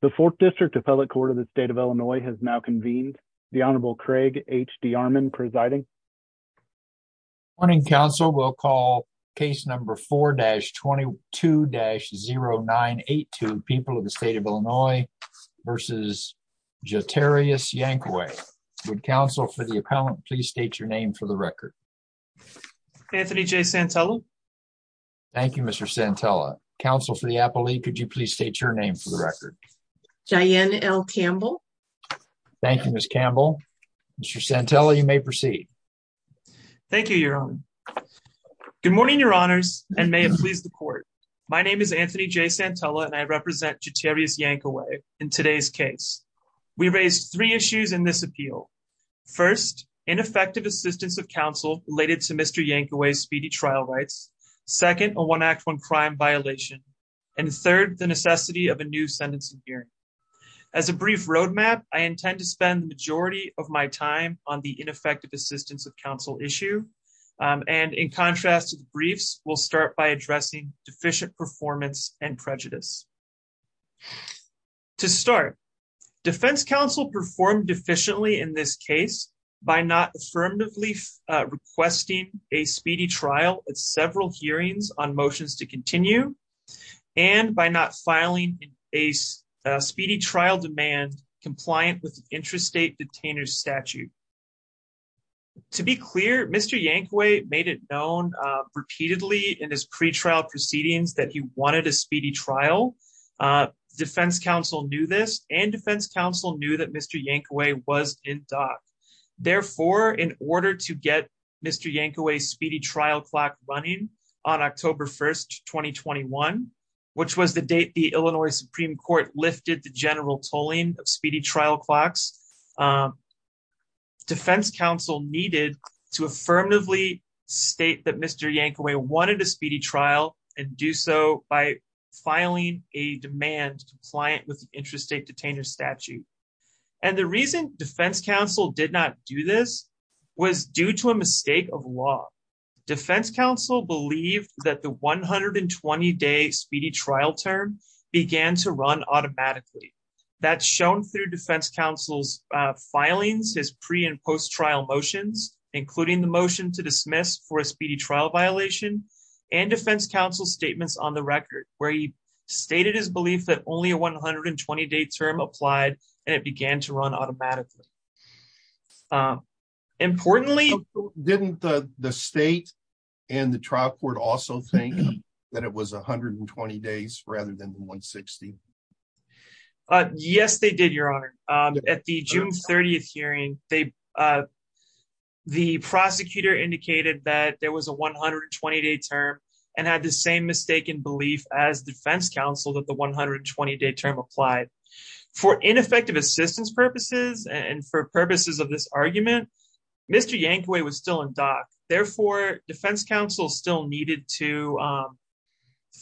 The Fourth District Appellate Court of the State of Illinois has now convened. The Honorable Craig H. D. Armon presiding. Morning, counsel. We'll call case number 4-22-0982, People of the State of Illinois v. Jotarius Yankaway. Would counsel for the appellant please state your name for the record? Anthony J. Santella. Thank you, Mr. Santella. Counsel for the appellee, could you please state your name for the record? Diane L. Campbell. Thank you, Ms. Campbell. Mr. Santella, you may proceed. Thank you, Your Honor. Good morning, Your Honors, and may it please the court. My name is Anthony J. Santella, and I represent Jotarius Yankaway in today's case. We raise three issues in this case. Second, a one-act-one crime violation. And third, the necessity of a new sentencing hearing. As a brief roadmap, I intend to spend the majority of my time on the ineffective assistance of counsel issue. And in contrast to the briefs, we'll start by addressing deficient performance and prejudice. To start, defense counsel performed efficiently in this case by not affirmatively requesting a speedy trial at several hearings on motions to continue, and by not filing a speedy trial demand compliant with interstate detainer statute. To be clear, Mr. Yankaway made it known repeatedly in his pretrial proceedings that he wanted a speedy trial. Defense counsel knew this, and defense counsel knew that Mr. Yankaway was in dock. Therefore, in order to get Mr. Yankaway's speedy trial clock running on October 1, 2021, which was the date the Illinois Supreme Court lifted the general tolling of speedy trial clocks, defense counsel needed to affirmatively state that Mr. Yankaway wanted a speedy trial and do so by filing a demand compliant with interstate detainer statute. And the reason counsel did not do this was due to a mistake of law. Defense counsel believed that the 120-day speedy trial term began to run automatically. That's shown through defense counsel's filings, his pre- and post-trial motions, including the motion to dismiss for a speedy trial violation, and defense counsel's statements on the record, where he stated his belief that only a 120-day applied and it began to run automatically. Didn't the state and the trial court also think that it was 120 days rather than 160? Yes, they did, your honor. At the June 30th hearing, the prosecutor indicated that there was a 120-day term and had the same mistaken belief as defense counsel that the 120-day term applied. For ineffective assistance purposes and for purposes of this argument, Mr. Yankaway was still in dock. Therefore, defense counsel still needed to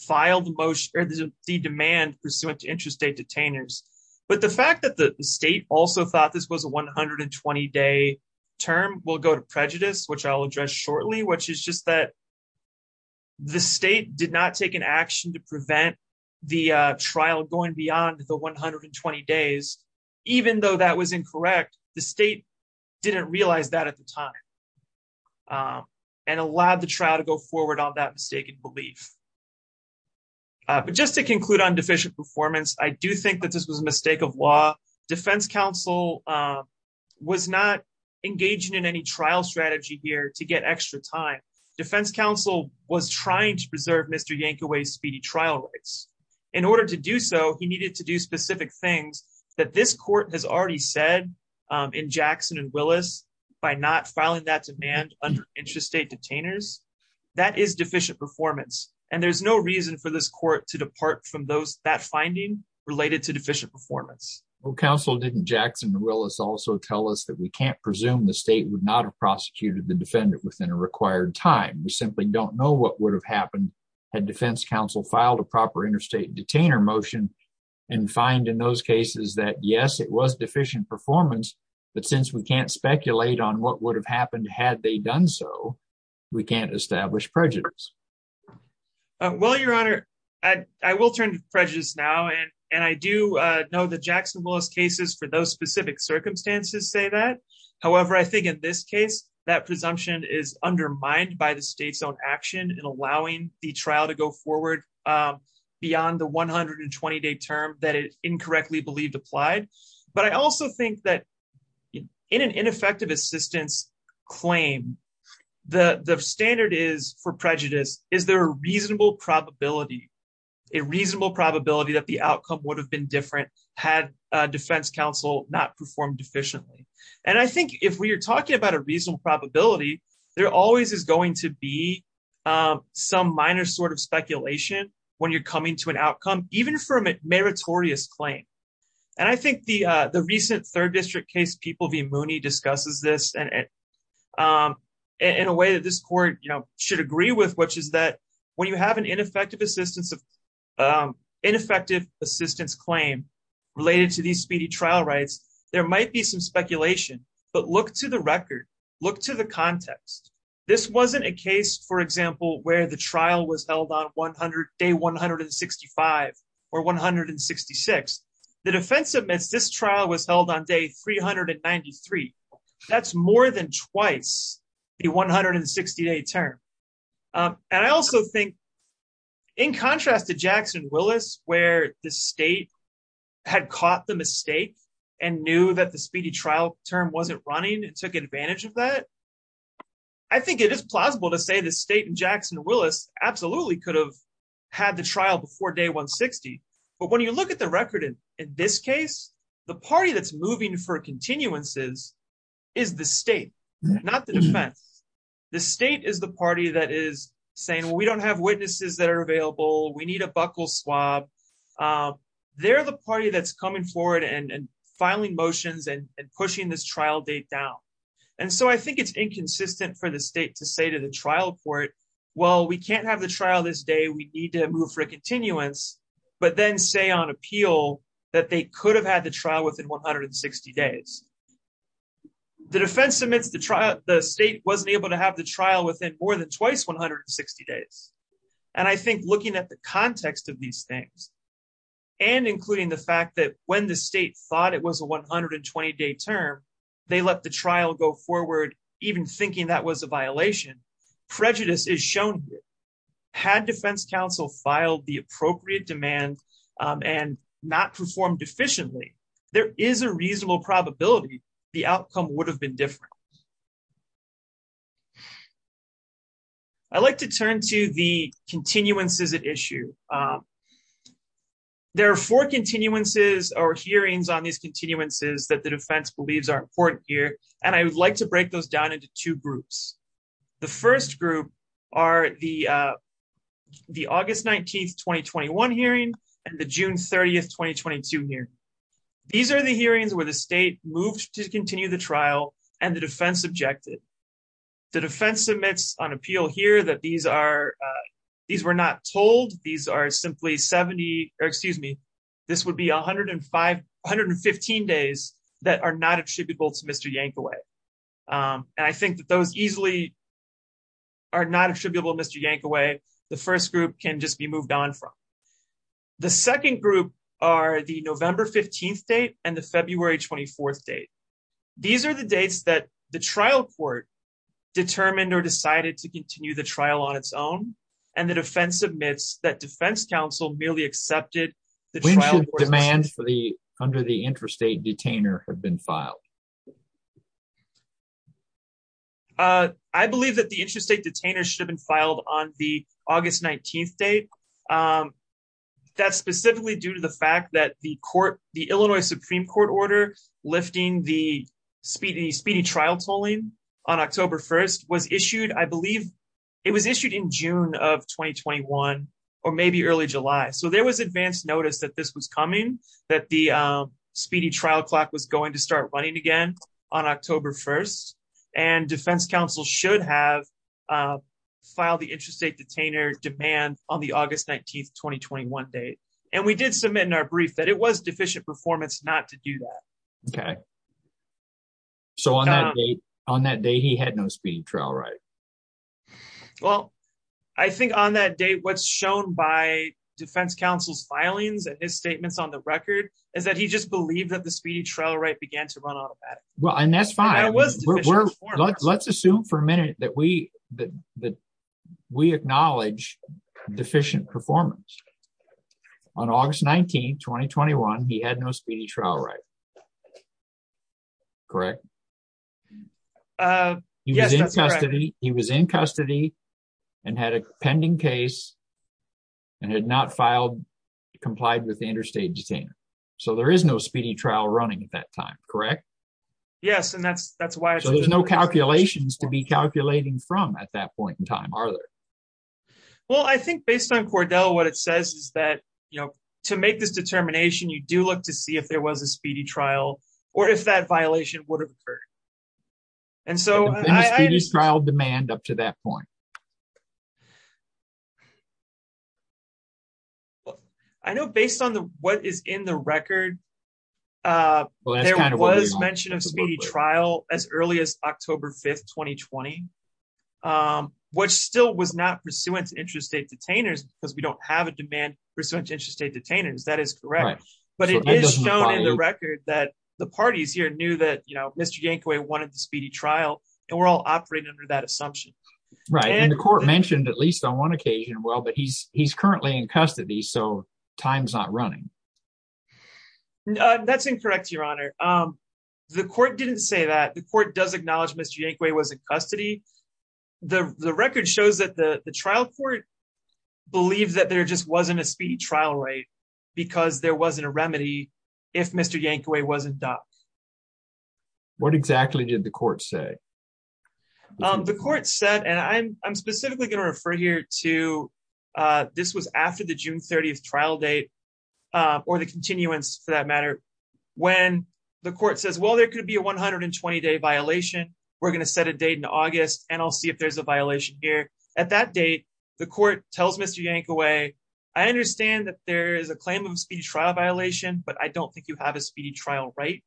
file the motion or the demand pursuant to interstate detainers. But the fact that the state also thought this was a 120-day term will go to prejudice, which I'll address shortly, which is just that the state did not take an action to prevent the trial going beyond the 120 days. Even though that was incorrect, the state didn't realize that at the time and allowed the trial to go forward on that mistaken belief. But just to conclude on deficient performance, I do think that this was a mistake of law. Defense counsel was not engaging in any trial strategy here to get extra time. Defense counsel was trying to preserve Mr. Yankaway's speedy trial rights. In order to do so, he needed to do specific things that this court has already said in Jackson and Willis by not filing that demand under interstate detainers. That is deficient performance. And there's no reason for this court to depart from that finding related to deficient performance. Well, counsel, didn't Jackson and Willis also tell us that we can't presume the state would not have prosecuted the defendant within a required time? We simply don't know what would have happened had defense counsel filed a proper interstate detainer motion and find in those cases that yes, it was deficient performance. But since we can't speculate on what would have happened had they done so, we can't establish prejudice. Well, Your Honor, I will turn to prejudice now. And I do know that Jackson and Willis cases for those specific circumstances say that. However, I think in this case, that presumption is undermined by the state's own action in allowing the trial to go forward beyond the 120-day term that it incorrectly believed applied. But I also think that in an ineffective assistance claim, the is there a reasonable probability that the outcome would have been different had defense counsel not performed efficiently? And I think if we are talking about a reasonable probability, there always is going to be some minor sort of speculation when you're coming to an outcome, even for a meritorious claim. And I think the recent third district case, People v. Mooney, discusses this in a way that this court should agree with, which is that when you have an ineffective assistance claim related to these speedy trial rights, there might be some speculation. But look to the record, look to the context. This wasn't a case, for example, where the trial was held on day 165 or 166. The defense admits this trial was held on day 393. That's more than twice the 160-day term. And I also think, in contrast to Jackson-Willis, where the state had caught the mistake and knew that the speedy trial term wasn't running and took advantage of that, I think it is plausible to say the state in Jackson-Willis absolutely could have had the trial before day 160. But when you look at the record in this case, the party that's moving for continuances is the state, not the defense. The state is the party that is saying, well, we don't have witnesses that are available, we need a buckle swab. They're the party that's coming forward and filing motions and pushing this trial date down. And so I think it's inconsistent for the state to say to the trial court, well, we can't have the trial this day, we need to move for a continuance, but then say on appeal that they could have had the trial within 160 days. The defense admits the state wasn't able to have the trial within more than twice 160 days. And I think looking at the context of these things, and including the fact that when the state thought it was a 120-day term, they let the trial go forward even thinking that was a demand and not performed efficiently, there is a reasonable probability the outcome would have been different. I'd like to turn to the continuances at issue. There are four continuances or hearings on these continuances that the defense believes are important here, and I would like to break those down into two groups. The first group are the August 19, 2021 hearing and the June 30, 2022 hearing. These are the hearings where the state moved to continue the trial and the defense objected. The defense admits on appeal here that these are, these were not told, these are simply 70, or excuse me, this would be 115 days that are not attributable to Mr. Yankaway. And I think that those easily are not attributable to Mr. Yankaway, the first group can just be moved on from. The second group are the November 15th date and the February 24th date. These are the dates that the trial court determined or decided to continue the trial on its own, and the defense admits that defense counsel merely accepted the trial. When should demands under the interstate detainer have been filed? I believe that the interstate detainer should have been filed on the August 19th date. That's specifically due to the fact that the court, the Illinois Supreme Court order lifting the speedy trial tolling on October 1st was issued, I believe, it was issued in June of 2021 or maybe early July. So there was advanced notice that this was coming, that the speedy trial clock was going to start running again on October 1st, and defense counsel should have filed the interstate detainer demand on the August 19th, 2021 date. And we did submit in our brief that it was deficient performance not to do that. Okay. So on that date, on that day, he had no speedy trial, right? Well, I think on that date, what's shown by defense counsel's statements on the record is that he just believed that the speedy trial right began to run automatic. Well, and that's fine. Let's assume for a minute that we that we acknowledge deficient performance. On August 19, 2021, he had no speedy trial, right? Correct. He was in custody, he was in custody and had a pending case and had not filed, complied with the interstate detainer. So there is no speedy trial running at that time, correct? Yes, and that's that's why there's no calculations to be calculating from at that point in time, are there? Well, I think based on Cordell, what it says is that, you know, to make this determination, you do look to see if there was a speedy trial, or if that violation would have occurred. And so I just trial demand up to that point. I know, based on the what is in the record, there was mention of speedy trial as early as October 5, 2020, which still was not pursuant to interstate detainers, because we don't have a demand pursuant to interstate detainers, that is correct. But it is shown in the record that the parties here knew that, you know, Mr. Yankway wanted the speedy trial, and we're all operating under that assumption. Right. And the court mentioned at least on one occasion, well, but he's he's currently in custody. So time's not running. That's incorrect, Your Honor. The court didn't say that the court does acknowledge Mr. Yankway was in custody. The record shows that the trial court believed that there just wasn't a speedy trial rate, because there wasn't a remedy if Mr. Yankway wasn't ducked. What exactly did the court say? The court said, and I'm specifically going to refer here to this was after the June 30 trial date, or the continuance for that matter, when the court says, well, there could be a 120 day violation, we're going to set a date in August, and I'll see if there's a violation here. At that date, the court tells Mr. Yankway, I understand that there is a claim of speedy trial violation, but I don't think you have a speedy trial rate.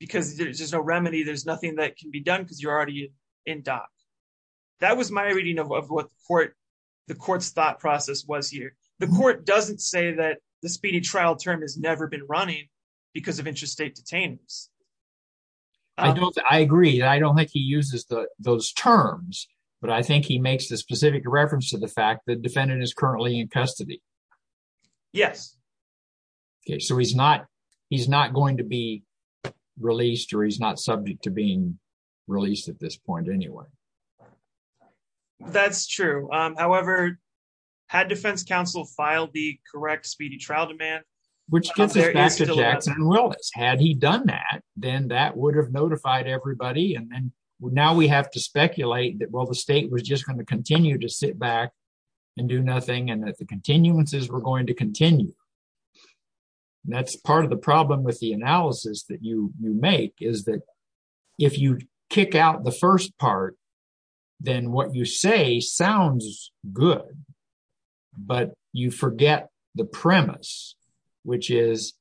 Because there's no remedy, there's nothing that can be done because you're already in dock. That was my reading of what the court, the court's thought process was here. The court doesn't say that the speedy trial term has never been running because of interstate detainees. I don't, I agree. I don't think he uses those terms. But I think he makes the specific reference to the fact that defendant is currently in custody. Yes. Okay, so he's not, he's not going to be released, or he's not subject to being released at this point anyway. That's true. However, had defense counsel filed the correct speedy trial demand, which gets us back to Jackson and Willis. Had he done that, then that would have notified everybody. And then now we have to speculate that, well, the state was just going to continue to sit back and do nothing, and that the continuances were going to continue. That's part of the problem with the analysis that you make, is that if you kick out the first part, then what you say sounds good. But you forget the premise, which is,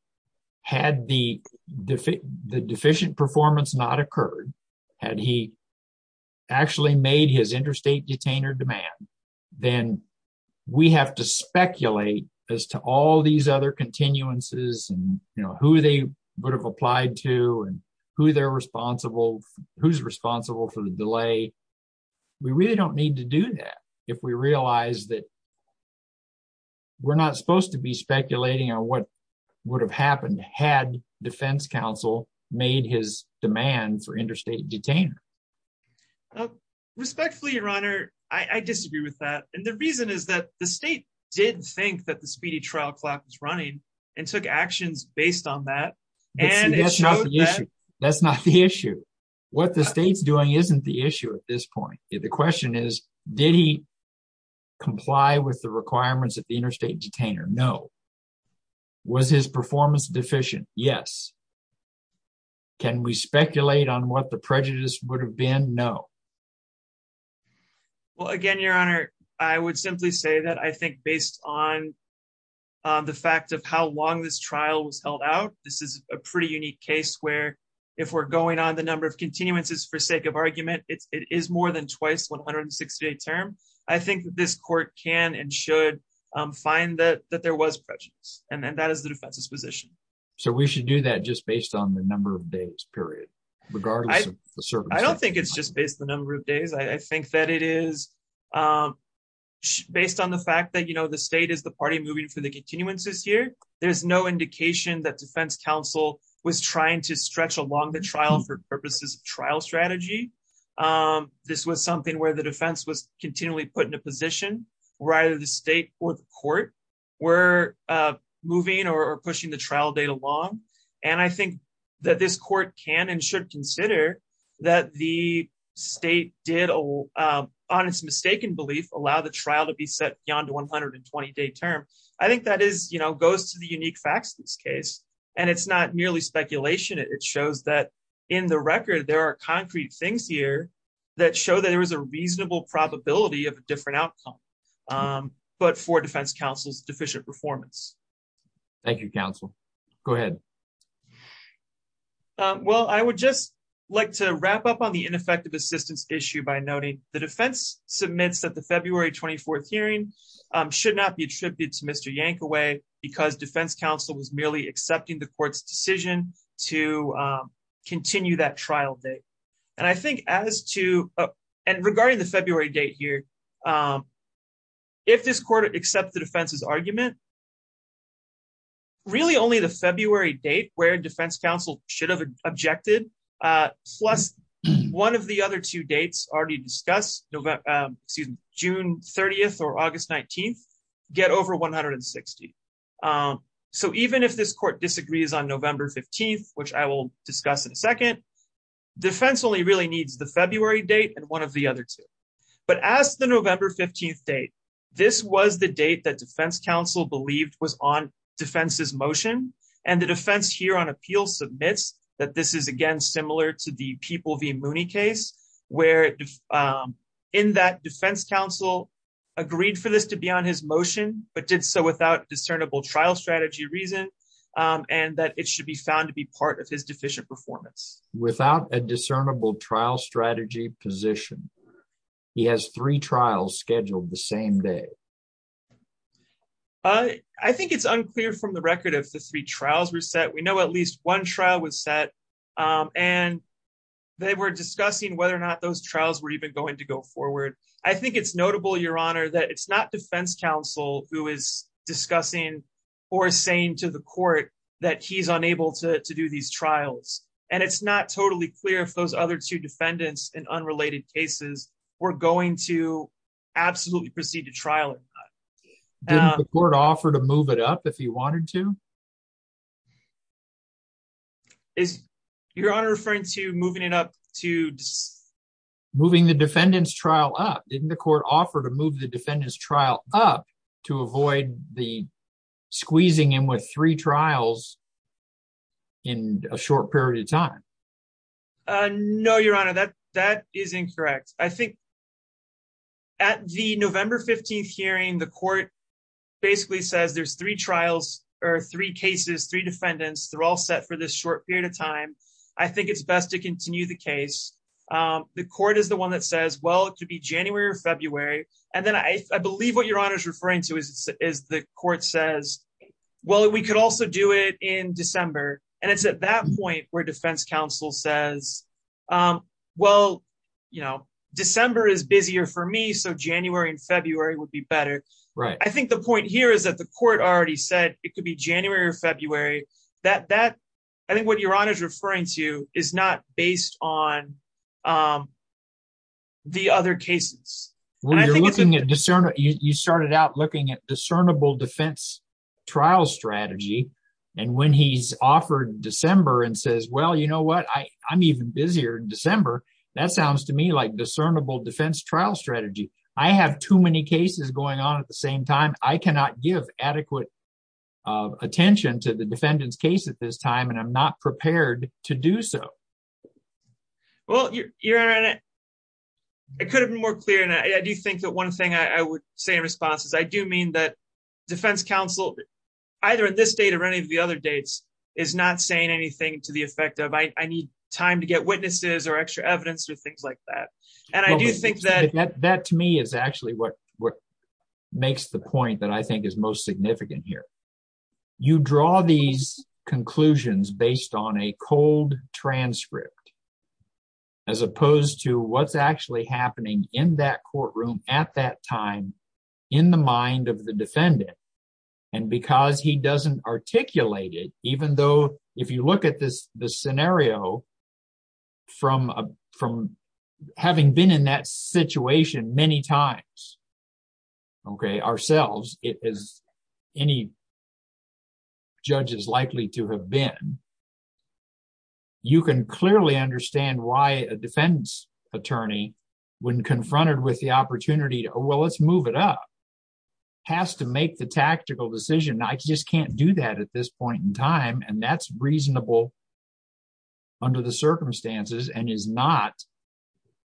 had the deficient performance not occurred, had he actually made his interstate detainer demand, then we have to speculate as to all these other continuances and, you know, who they would have applied to and who they're responsible, who's responsible for the delay. We really don't need to do that if we realize that we're not supposed to be speculating on what would have happened had defense counsel made his demand for interstate detainer. Respectfully, your honor, I disagree with that. And the reason is that the state did think that the speedy trial clock was running and took actions based on that. That's not the issue. That's not the issue. What the state's doing isn't the issue at this point. The question is, did he comply with the requirements of the interstate detainer? No. Was his performance deficient? Yes. Can we speculate on what the prejudice would have been? No. Well, again, your honor, I would simply say that I think based on the fact of how long this trial was held out, this is a pretty unique case where if we're going on the number of continuances for sake of argument, it is more than twice 160 day term. I think this court can and should find that that there was prejudice and that is the defense's position. So we should do that just based on the number of days, period, regardless of the service. I don't think it's just based on the number of days. I think that it is based on the fact that, you know, the state is the party moving for the continuances here. There's no indication that defense counsel was trying to stretch along the trial for purposes of trial strategy. This was something where the defense was continually put in a position where either the state or the court were moving or pushing the trial date along. And I think that this court can and should consider that the state did on its mistaken belief, allow the trial to be set beyond 120 day term. I think that is, you know, goes to the unique facts of this case. And it's not merely speculation. It shows that in the record, there are concrete things here that show that there was a reasonable probability of a different outcome, but for defense counsel's deficient performance. Thank you, counsel. Go ahead. Well, I would just like to wrap up on the ineffective assistance issue by noting the submits that the February 24 hearing should not be attributed to Mr. Yankaway, because defense counsel was merely accepting the court's decision to continue that trial date. And I think as to and regarding the February date here, if this court accepted offenses argument, really only the February date where defense counsel should have objected, plus one of the other two excuse me, June 30, or August 19, get over 160. So even if this court disagrees on November 15, which I will discuss in a second, defense only really needs the February date and one of the other two. But as the November 15 date, this was the date that defense counsel believed was on defense's motion. And the defense here on appeal submits that this is again, similar to the people Mooney case, where in that defense counsel agreed for this to be on his motion, but did so without discernible trial strategy reason, and that it should be found to be part of his deficient performance without a discernible trial strategy position. He has three trials scheduled the same day. I think it's unclear from the record of the three trials were set, we know at least one trial was set. And they were discussing whether or not those trials were even going to go forward. I think it's notable, Your Honor, that it's not defense counsel who is discussing or saying to the court that he's unable to do these trials. And it's not totally clear if those other two defendants in unrelated cases, we're going to absolutely proceed to trial in court offer to is your honor referring to moving it up to moving the defendants trial up in the court offer to move the defendants trial up to avoid the squeezing in with three trials in a short period of time. No, Your Honor, that that is incorrect. I think at the November 15 hearing, the court basically says there's three trials, or three cases, three defendants, they're all set for this short period of time, I think it's best to continue the case. The court is the one that says, well, it could be January or February. And then I believe what Your Honor is referring to is, is the court says, well, we could also do it in December. And it's at that point where defense counsel says, well, you know, December is busier for me. So January and February would be better. Right? I think the point here is that the court already said, it could be January or February, that that, I think what Your Honor is referring to is not based on the other cases. When you're looking at discerning, you started out looking at discernible defense trial strategy. And when he's offered December and says, well, you know what, I I'm even busier in December. That sounds to me like discernible defense trial strategy. I have too many cases going on at the same time, I cannot give adequate attention to the defendant's case at this time. And I'm not prepared to do so. Well, Your Honor, it could have been more clear. And I do think that one thing I would say in response is I do mean that defense counsel, either at this date or any of the other dates, is not saying anything to the effect of I need time to get witnesses or extra evidence or things like that. And I do think that to me is actually what what makes the point that I think is most significant here. You draw these conclusions based on a cold transcript, as opposed to what's actually happening in that courtroom at that time, in the mind of the defendant. And because he doesn't articulate it, even though if you look at this, the scenario, from from having been in that situation many times, okay, ourselves, it is any judges likely to have been, you can clearly understand why a defense attorney, when confronted with the opportunity to well, let's move it up, has to make the tactical decision, I just can't do that at this point in time. And that's reasonable under the circumstances and is not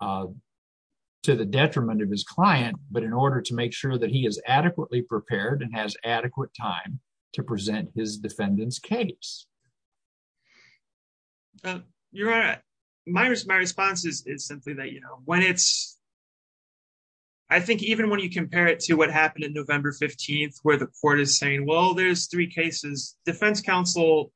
to the detriment of his client, but in order to make sure that he is adequately prepared and has adequate time to present his defendant's case. Your Honor, my response is simply that, you know, when it's I think even when you compare it to what happened in November 15, where the court is saying, well, there's three cases, defense counsel,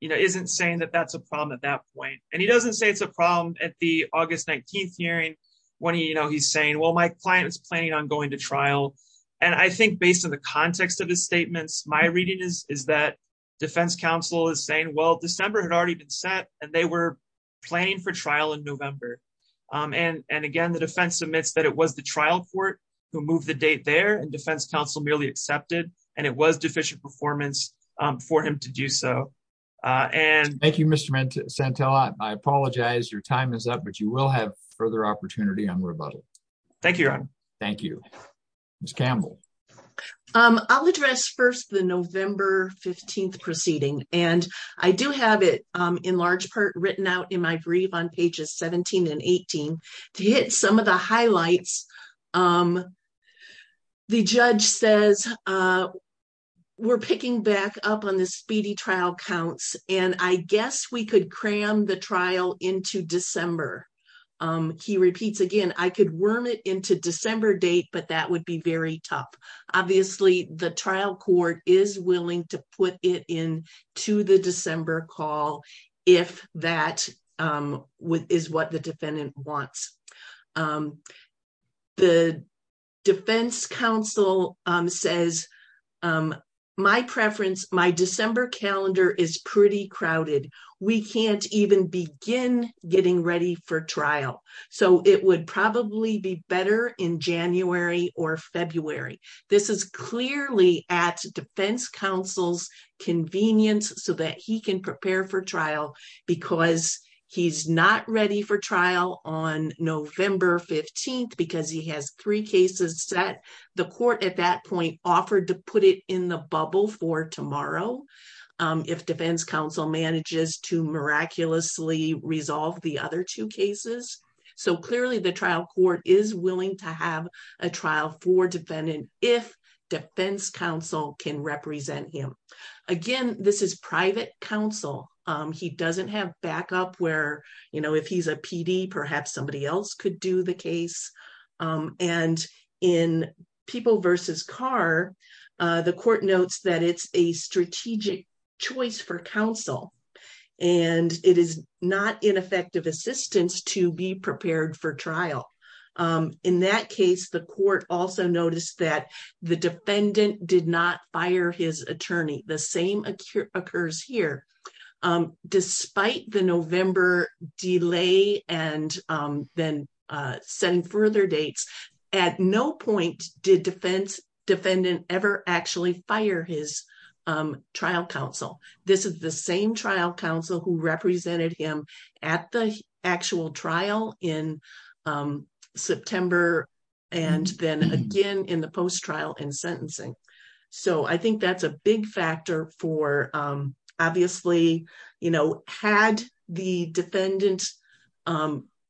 you know, isn't saying that that's a problem at that point. And he doesn't say it's a problem at the August 19 hearing, when he you know, he's saying, well, my client was planning on going to trial. And I think based on the context of his statements, my reading is, is that defense counsel is saying, well, December had already been set, and they were planning for trial in November. And, and again, the defense admits that it was the trial court who moved the date there and defense counsel merely accepted, and it was deficient performance for him to do so. And thank you, Mr. Santella, I apologize, your time is up, but you will have further opportunity on rebuttal. Thank you, Your Honor. Thank you. Ms. Campbell. I'll address first the November 15 proceeding. And I do have it, in large part written out in my brief on pages 17 and 18. To hit some of the highlights. The judge says, we're picking back up on the speedy trial counts, and I guess we could cram the trial into December. He repeats again, I could worm it into December date, but that would be very tough. Obviously, the trial court is willing to put it in to the December call, if that is what the defendant wants. The defense counsel says, my preference, my December calendar is pretty crowded. We can't even begin getting ready for trial. So it would probably be better in January or February. This is clearly at defense counsel's convenience so that he can prepare for trial, because he's not ready for trial on November 15, because he has three cases set. The court at that point offered to put it in the bubble for tomorrow, if defense counsel manages to miraculously resolve the other two cases. So clearly, the trial court is willing to have a trial for defendant if defense counsel can represent him. Again, this is private counsel. He doesn't have backup where, you know, if he's a PD, perhaps somebody else could do the case. And in People v. Carr, the court notes that it's a strategic choice for counsel, and it is not ineffective assistance to be prepared for trial. In that case, the court also noticed that the defendant did not fire his attorney. The same occurs here. Despite the November delay and then setting further dates, at no point did defendant ever actually fire his trial counsel. This is the same trial counsel who represented him at the actual trial in September, and then again in the post-trial in sentencing. So I think that's a big factor for obviously, you know, had the defendant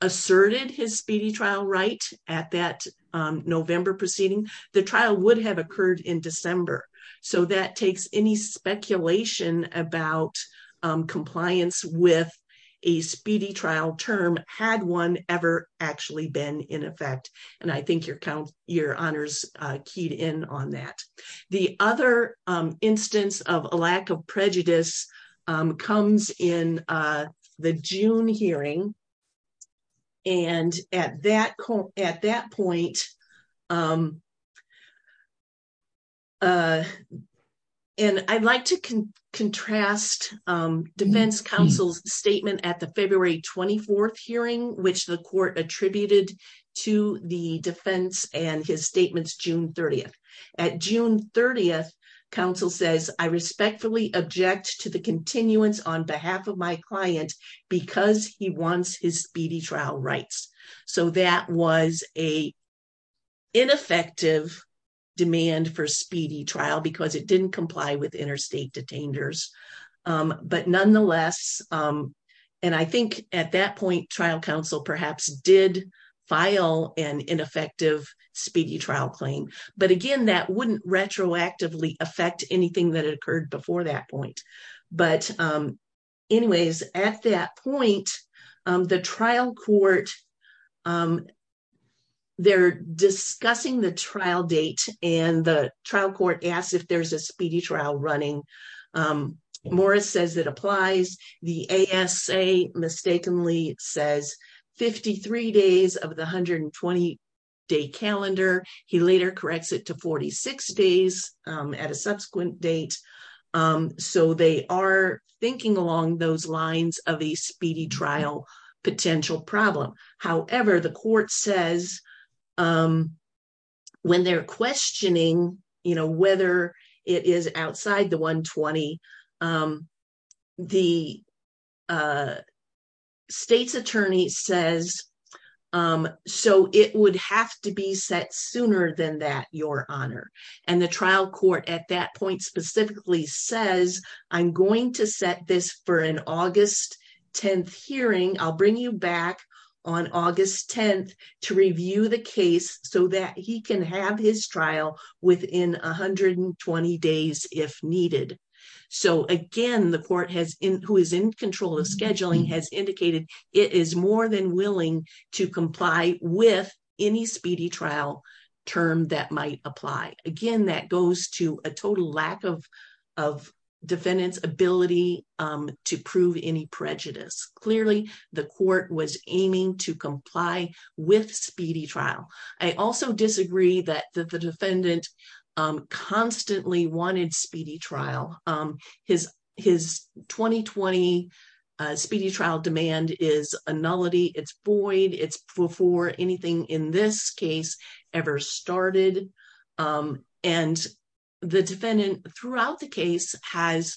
asserted his speedy trial right at that November proceeding, the trial would have occurred in December. So that takes any speculation about compliance with a speedy trial term had one ever actually been in effect. And I think your count your honors keyed in on that. The other instance of a lack of prejudice comes in the June hearing. And at that point, and I'd like to contrast defense counsel's statement at the February 24th hearing, which the court attributed to the defense and his statements June 30th. At June 30th, counsel says, I respectfully object to the continuance on behalf of my client, because he wants his speedy trial rights. So that was a ineffective demand for speedy trial, because it didn't comply with interstate detainers. But nonetheless, and I think at that point, trial counsel perhaps did file an ineffective speedy trial claim. But again, that wouldn't retroactively affect anything that occurred before that point. But anyways, at that point, the trial court, they're discussing the trial date, and the trial court asked if there's a speedy trial running. Morris says that applies. The ASA mistakenly says 53 days of the 120 day calendar, he later corrects it to 46 days at a subsequent date. So they are thinking along those lines of a speedy trial potential problem. However, the court says, when they're questioning, you know, whether it is outside the 120, the state's attorney says, so it would have to be set sooner than that, your honor. And the trial court at that point specifically says, I'm going to set this for an August 10th hearing, I'll bring you back on August 10th to review the case so that he can have his trial within 120 days if needed. So again, the court who is in control of scheduling has indicated it is more than willing to comply with any speedy trial term that might apply. Again, that goes to a total lack of defendant's ability to prove any prejudice. Clearly, the court was aiming to comply with speedy trial. I also disagree that the defendant constantly wanted speedy trial. His 2020 speedy trial demand is a nullity, it's void, it's before anything in this case ever started. And the defendant throughout the case has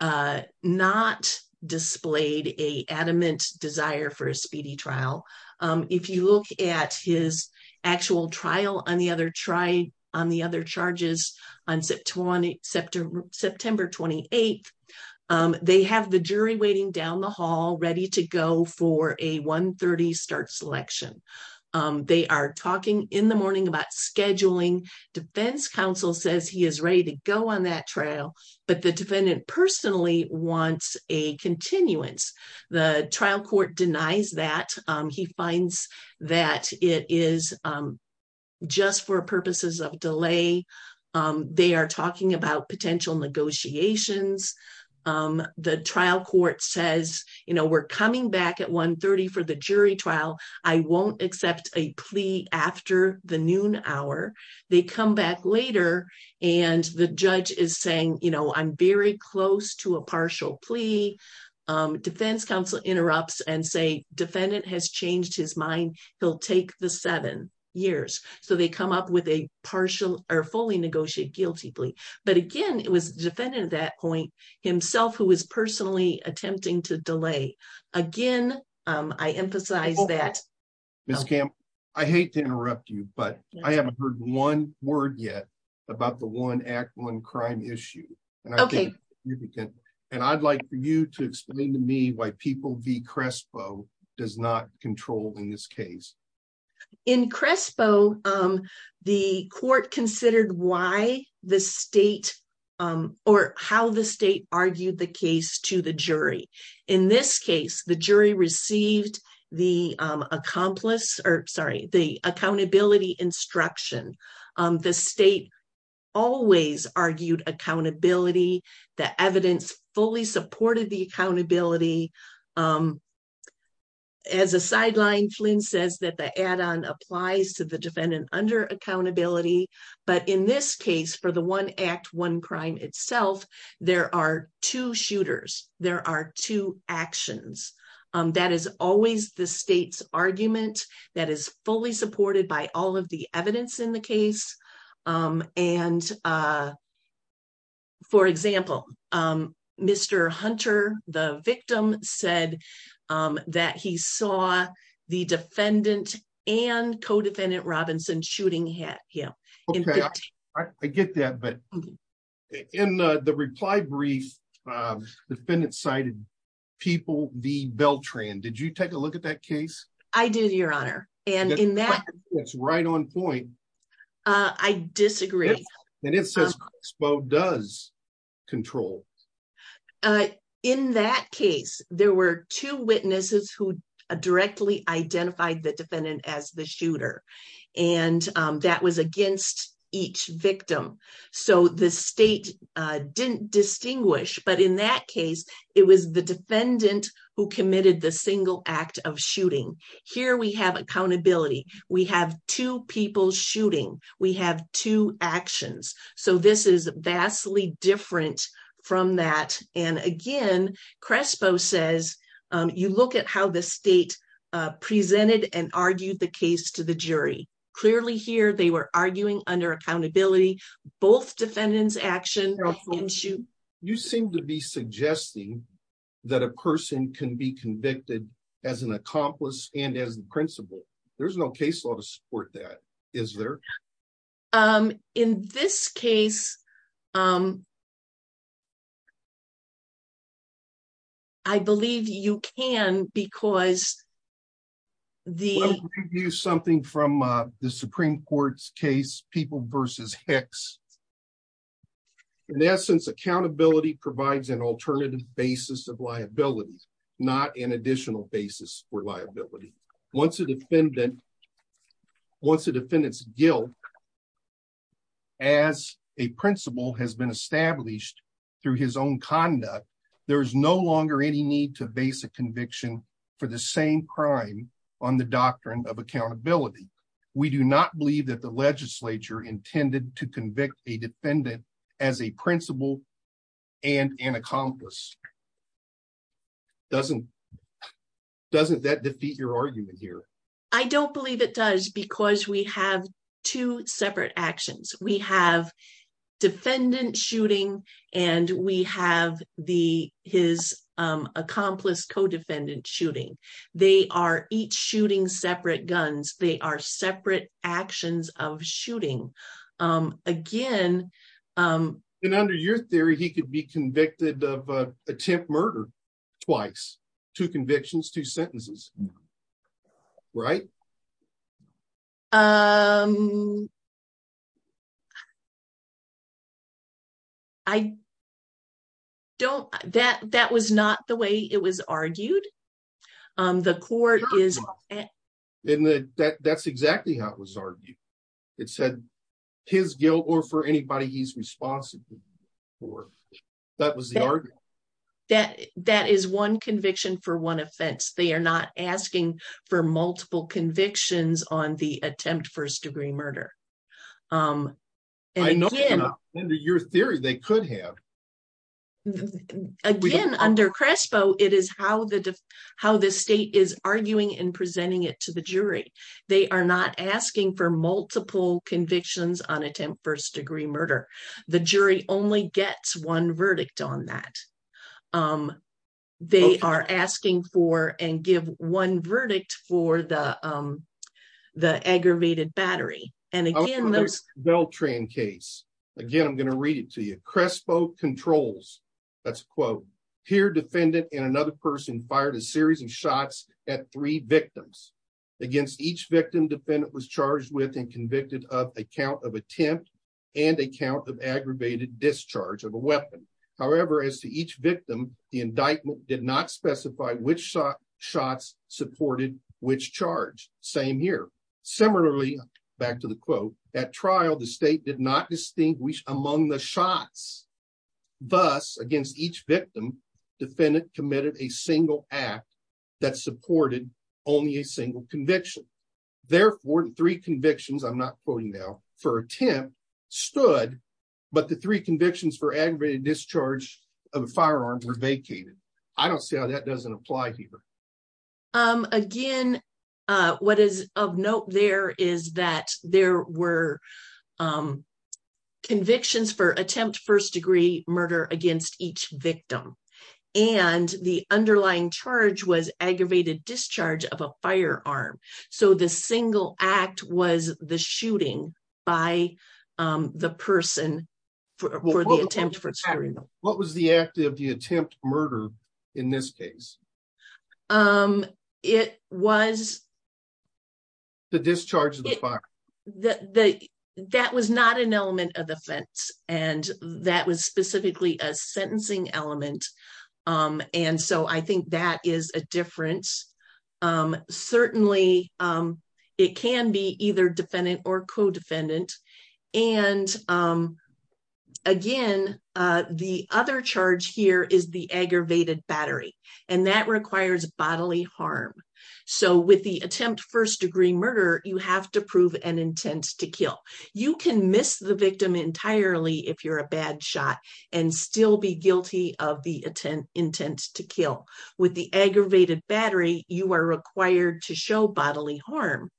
not displayed a adamant desire for a speedy trial. If you look at his actual trial on the other charges on September 28th, they have the jury waiting down the hall ready to go for a 1.30 start selection. They are talking in the morning about scheduling, defense counsel says he is ready to go on that trial, but the defendant personally wants a continuance. The trial court denies that, he finds that it is just for purposes of delay. They are talking about potential negotiations. The trial court says, we're coming back at 1.30 for the jury trial, I won't accept a plea after the noon hour. They come back later and the judge is saying, I'm very close to a partial plea. Defense counsel interrupts and says, defendant has changed his mind, he'll take the seven years. So they come up with a partial or fully negotiated guilty plea. But again, it was the defendant at that point himself who was personally attempting to delay. Again, I emphasize that. Ms. Campbell, I hate to interrupt you, but I haven't heard one word yet about the one act, crime issue. I'd like for you to explain to me why people v. Crespo does not control in this case. In Crespo, the court considered why the state or how the state argued the case to the jury. In this case, the jury received the accountability instruction. The state always argued accountability. The evidence fully supported the accountability. As a sideline, Flynn says that the add-on applies to the defendant under accountability. But in this case, for the one act, one crime itself, there are two shooters. There are two actions. That is always the state's argument. That is fully supported by all of the evidence in the case. For example, Mr. Hunter, the victim, said that he saw the defendant and co-defendant Robinson shooting at him. Okay, I get that. But in the reply brief, the defendant cited people v. Beltran. Did you take a look at that case? I did, your honor. That's right on point. I disagree. It says Crespo does control. In that case, there were two witnesses who directly identified the defendant as the shooter. That was against each victim. The state didn't distinguish. But in that case, it was the defendant who committed the single act of shooting. Here, we have accountability. We have two people shooting. We have two actions. This is vastly different from that. Again, Crespo says, you look at how the state presented and argued the case to the jury. Clearly here, they were arguing under accountability. Both defendants' actions. Your honor, you seem to be suggesting that a person can be convicted as an accomplice and as the principal. There's no case law to support that, is there? In this case, I believe you can because the- In essence, accountability provides an alternative basis of liability, not an additional basis for liability. Once a defendant's guilt as a principal has been established through his own conduct, there is no longer any need to base a conviction for the same crime on the doctrine of accountability. We do not believe that intended to convict a defendant as a principal and an accomplice. Doesn't that defeat your argument here? I don't believe it does because we have two separate actions. We have defendant shooting and we have his accomplice co-defendant shooting. They are each shooting separate guns. They are separate actions of shooting. Under your theory, he could be convicted of attempt murder twice, two convictions, two sentences. Right? That was not the way it was argued. The court is- That's exactly how it was argued. It said his guilt or for anybody he's responsible for. That was the argument. That is one conviction for one offense. They are not asking for multiple convictions on the attempt first degree murder. I know they're not. Under your theory, they could have. Again, under CRESPO, it is how the state is arguing and presenting it to the jury. They are not asking for multiple convictions on attempt first degree murder. The jury only gets one verdict on that. They are asking for and give one verdict for the aggravated battery. Again, I'm going to read it to you. CRESPO controls. Here, defendant and another person fired a series of shots at three victims. Against each victim, was charged with and convicted of a count of attempt and a count of aggravated discharge of a weapon. However, as to each victim, the indictment did not specify which shots supported which charge. Same here. Similarly, back to the quote, at trial, the state did not distinguish among the shots. Thus, against each victim, defendant committed a single act that supported only a single conviction. Therefore, three convictions, I'm not quoting now, for attempt stood, but the three convictions for aggravated discharge of firearms were vacated. I don't see how that doesn't apply here. Again, what is of note there is that there were convictions for firearm. The single act was the shooting by the person for the attempt. What was the act of the attempt murder in this case? It was. The discharge of the fire. That was not an element of the offense. That was specifically a sentencing element. And so, I think that is a difference. Certainly, it can be either defendant or co-defendant. And again, the other charge here is the aggravated battery. And that requires bodily harm. So, with the attempt first degree murder, you have to prove an intent to kill. You can miss the victim entirely if you're a bad shot and still be guilty of the intent to kill. With the aggravated battery, you are required to show bodily harm.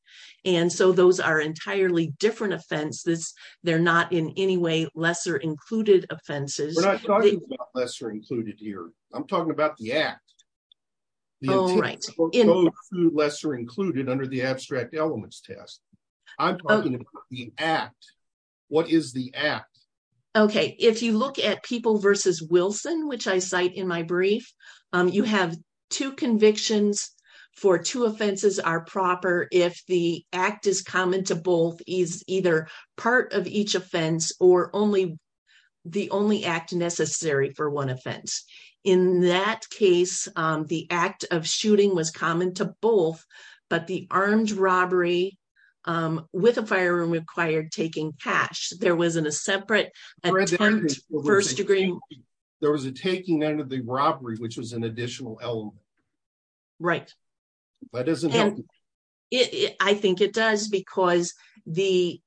And so, those are entirely different offenses. They're not in any way lesser included offenses. We're not talking about lesser included here. I'm talking about the act. Oh, right. Lesser included under the abstract elements test. I'm talking about the act. What is the act? Okay. If you look at People v. Wilson, which I cite in my brief, you have two convictions for two offenses are proper if the act is common to both is either part of each offense or only the only act necessary for one offense. In that case, the act of shooting was common to both, but the armed robbery with a firearm required taking cash. There wasn't a separate attempt first degree. There was a taking out of the robbery, which was an additional element. Right. That doesn't help. I think it does because the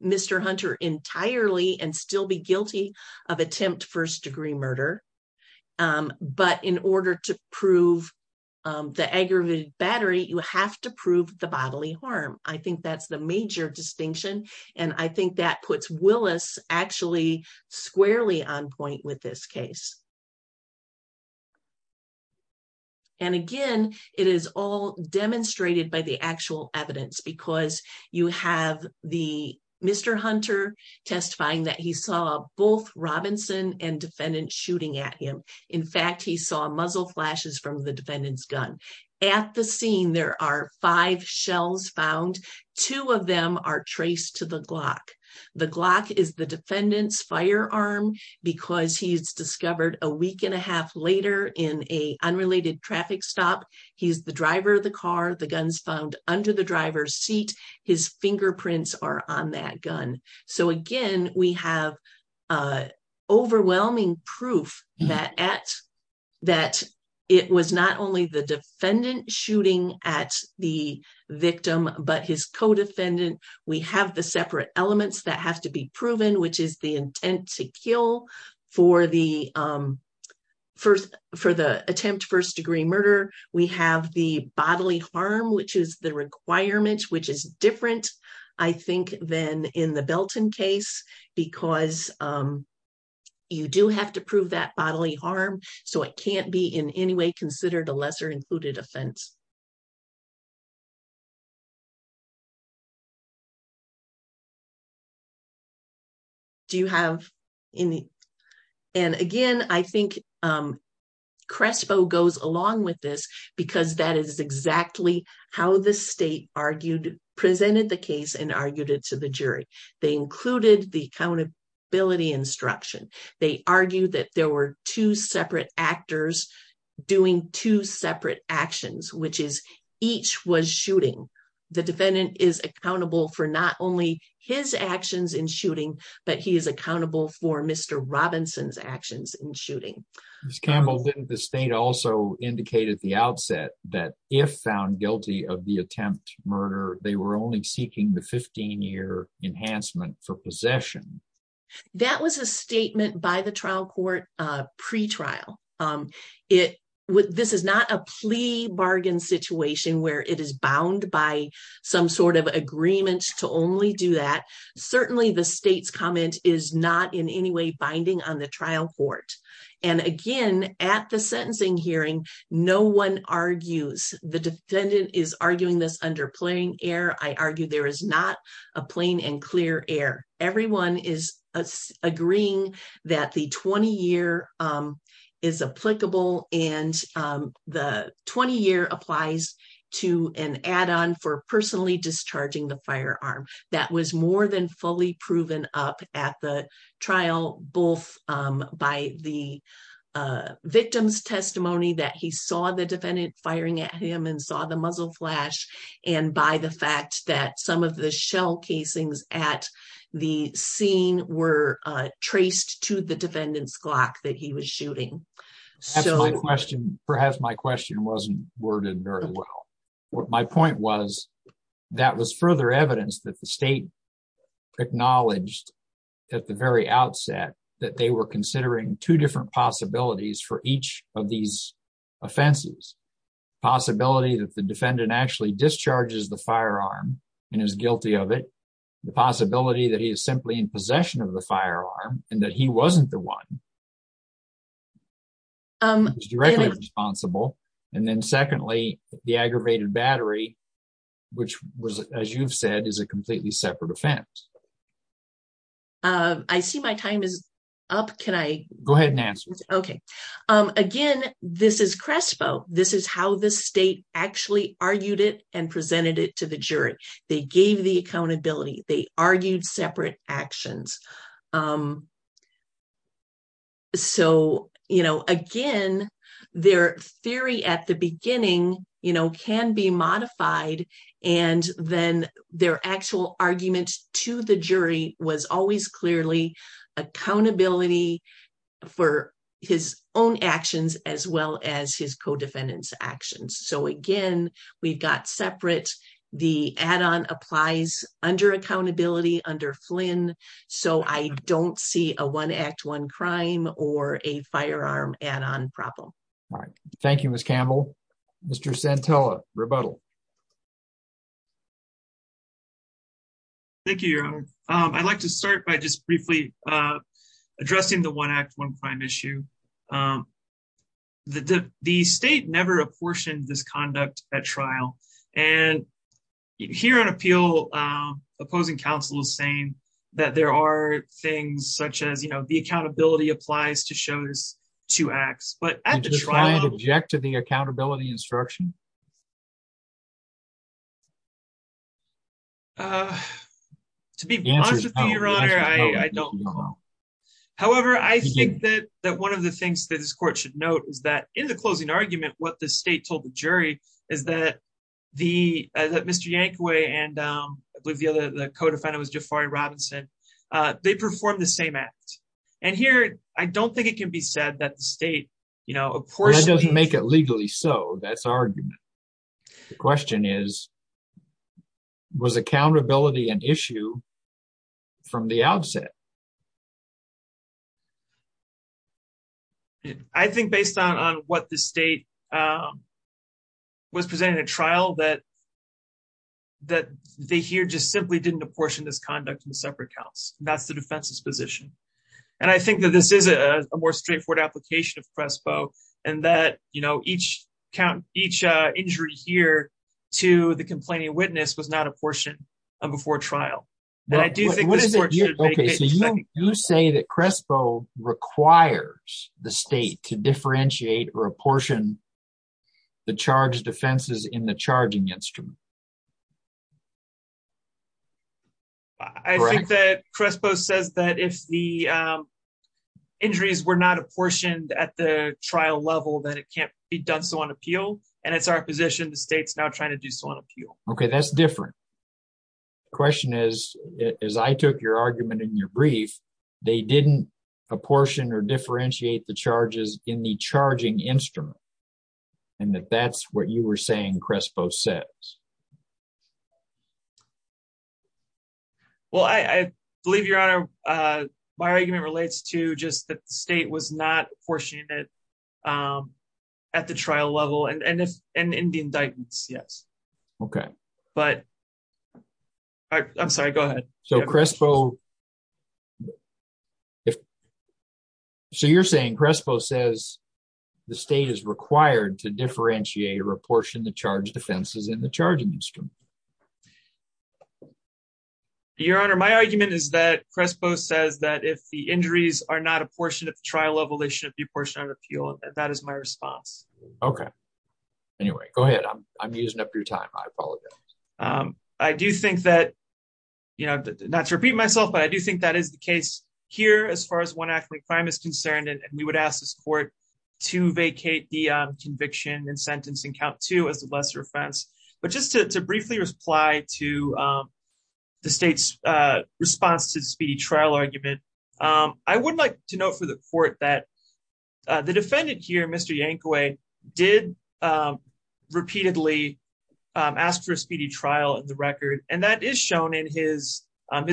Mr. Hunter entirely and still be guilty of attempt first degree murder, but in order to prove the aggravated battery, you have to prove the bodily harm. I think that's the major distinction, and I think that puts Willis actually squarely on point with this case. And again, it is all demonstrated by the actual evidence because you have the Mr. Hunter testifying that he saw both Robinson and defendant shooting at him. In fact, he saw muzzle flashes from the defendant's gun at the scene. There are five shells found. Two of them are traced to the Glock. The Glock is the defendant's firearm because he's discovered a week and a half later in a unrelated traffic stop. He's the driver of the car. The gun's found under the driver's seat. His fingerprints are on that gun. So again, we have overwhelming proof that it was not only the that have to be proven, which is the intent to kill for the first for the attempt first degree murder. We have the bodily harm, which is the requirement, which is different, I think, than in the Belton case, because you do have to prove that bodily harm. So it can't be in any way considered a lesser included offense. Do you have any? And again, I think Crespo goes along with this because that is exactly how the state argued, presented the case and argued it to the jury. They included the accountability instruction. They argued that there were two separate actors doing two separate actions, which is each was shooting. The defendant is accountable for not only his actions in shooting, but he is accountable for Mr. Robinson's actions in shooting. Ms. Campbell, the state also indicated at the outset that if found guilty of the attempt murder, they were only seeking the 15 year enhancement for possession. That was a statement by the trial court pretrial. This is not a plea bargain situation where it is bound by some sort of agreement to only do that. Certainly, the state's comment is not in any way binding on the trial court. And again, at the sentencing hearing, no one argues the defendant is arguing this under plain air. I argue there is not a plain and clear air. Everyone is agreeing that the 20 year is applicable and the 20 year applies to an add on for personally discharging the firearm. That was more than fully proven up at the trial, both by the victim's testimony that he saw the defendant firing at him and saw the muzzle flash, and by the fact that some of the shell casings at the scene were traced to the defendant's Glock that he was shooting. Perhaps my question wasn't worded very well. My point was that was further evidence that the state acknowledged at the very outset that they were considering two different possibilities for each of these offenses. Possibility that the defendant actually discharges the firearm and is guilty of it. The possibility that he is simply in possession of the firearm and that he wasn't the one who is directly responsible. And then secondly, the aggravated battery, which was, as you've said, is a completely separate offense. I see my time is up. Can I... Again, this is CRESPO. This is how the state actually argued it and presented it to the jury. They gave the accountability. They argued separate actions. So, you know, again, their theory at the beginning, you know, can be modified. And then their actual argument to the jury was always clearly accountability for his own actions as well as his co-defendant's actions. So again, we've got separate. The add-on applies under accountability under Flynn. So I don't see a one act, one crime or a firearm add-on problem. All right. Thank you, Ms. Campbell. Mr. Santella, rebuttal. Thank you, Your Honor. I'd like to start by just briefly addressing the one act, one crime issue. The state never apportioned this conduct at trial. And here on appeal, opposing counsel is saying that there are things such as, you know, the accountability applies to show this two acts, but at the trial... Did you try and object to the accountability instruction? To be honest with you, Your Honor, I don't know. However, I think that one of the things that this court should note is that in the closing argument, what the state told the jury is that Mr. Yankaway and I believe the other co-defendant was Jafari Robinson, they performed the same act. And here, I don't think it can be said that the state, you know, apportioned... That's our question is, was accountability an issue from the outset? I think based on what the state was presenting at trial, that they here just simply didn't apportion this conduct in separate counts. That's the defense's position. And I think that this is a more straightforward application of CRESPO and that, you know, each injury here to the complaining witness was not apportioned before trial. And I do think this court should make it... Okay, so you say that CRESPO requires the state to differentiate or apportion the charge defenses in the charging instrument? I think that CRESPO says that if the injuries were not apportioned at the trial level, then it can't be done so on appeal. And it's our position, the state's now trying to do so on appeal. Okay, that's different. The question is, as I took your argument in your brief, they didn't apportion or differentiate the charges in the charging instrument. And that that's what you were saying CRESPO says. Well, I believe, Your Honor, my argument relates to just that the state was not apportioning it at the trial level and in the indictments, yes. Okay. But I'm sorry, go ahead. So CRESPO... Your Honor, my argument is that CRESPO says that if the injuries are not apportioned at the trial level, they should be apportioned on appeal. And that is my response. Okay. Anyway, go ahead. I'm using up your time. I apologize. I do think that, you know, not to repeat myself, but I do think that is the case here as far as one act of crime is concerned. And we would ask this court to vacate the conviction and sentence and count two as a lesser offense. But just to briefly reply to the state's response to the speedy trial argument, I would like to note for the court that the defendant here, Mr. Yankoe, did repeatedly ask for a speedy trial in the record. And that is shown in his,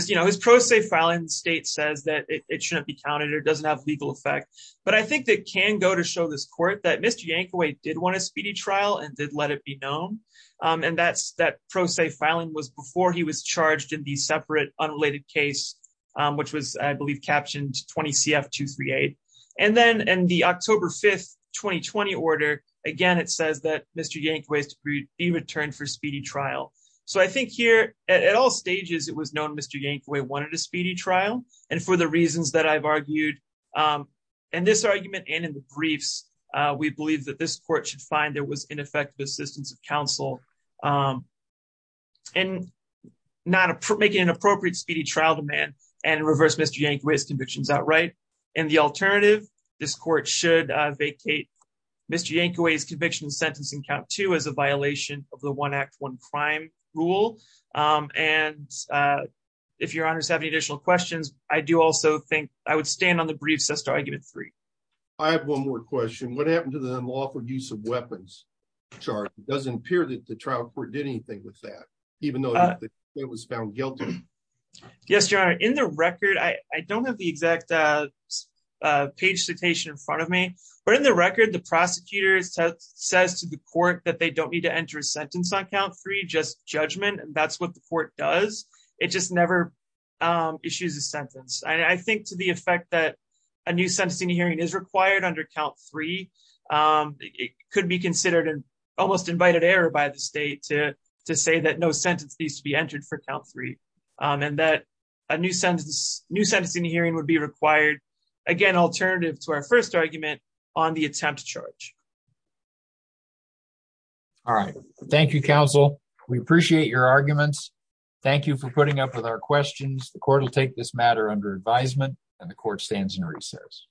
you know, his pro se filing state says that it shouldn't be counted or doesn't have a legal effect. But I think that can go to show this court that Mr. Yankoe did want a speedy trial and did let it be known. And that pro se filing was before he was charged in the separate unrelated case, which was, I believe, captioned 20 CF 238. And then in the October 5th, 2020 order, again, it says that Mr. Yankoe is to be returned for speedy trial. So I think here at all stages, it was known Mr. Yankoe wanted a speedy trial. And for the reasons that I've argued in this argument, and in the briefs, we believe that this court should find there was ineffective assistance of counsel and not making an appropriate speedy trial demand and reverse Mr. Yankoe's convictions outright. And the alternative, this court should vacate Mr. Yankoe's conviction sentencing count to as a violation of the one act one crime rule. And if your honors have any additional questions, I do also think I would stand on the briefs as to argument three. I have one more question. What happened to the law for use of weapons? chart doesn't appear that the trial court did anything with that, even though it was found guilty. Yes, your honor in the record, I don't have the exact page citation in front of me. But in the record, the prosecutors says to the court that they don't need to enter a sentence on count three just judgment. And that's what the court does. It just never issues a sentence. I think to the effect that a new sentencing hearing is required under count three, it could be considered an almost invited error by the state to to say that no sentence needs to be entered for count three, and that a new sentence, new sentencing hearing would be required. Again, alternative to our first argument on the attempt to charge. All right. Thank you, counsel. We appreciate your arguments. Thank you for putting up with our questions. The court will take this matter under advisement and the court stands in recess.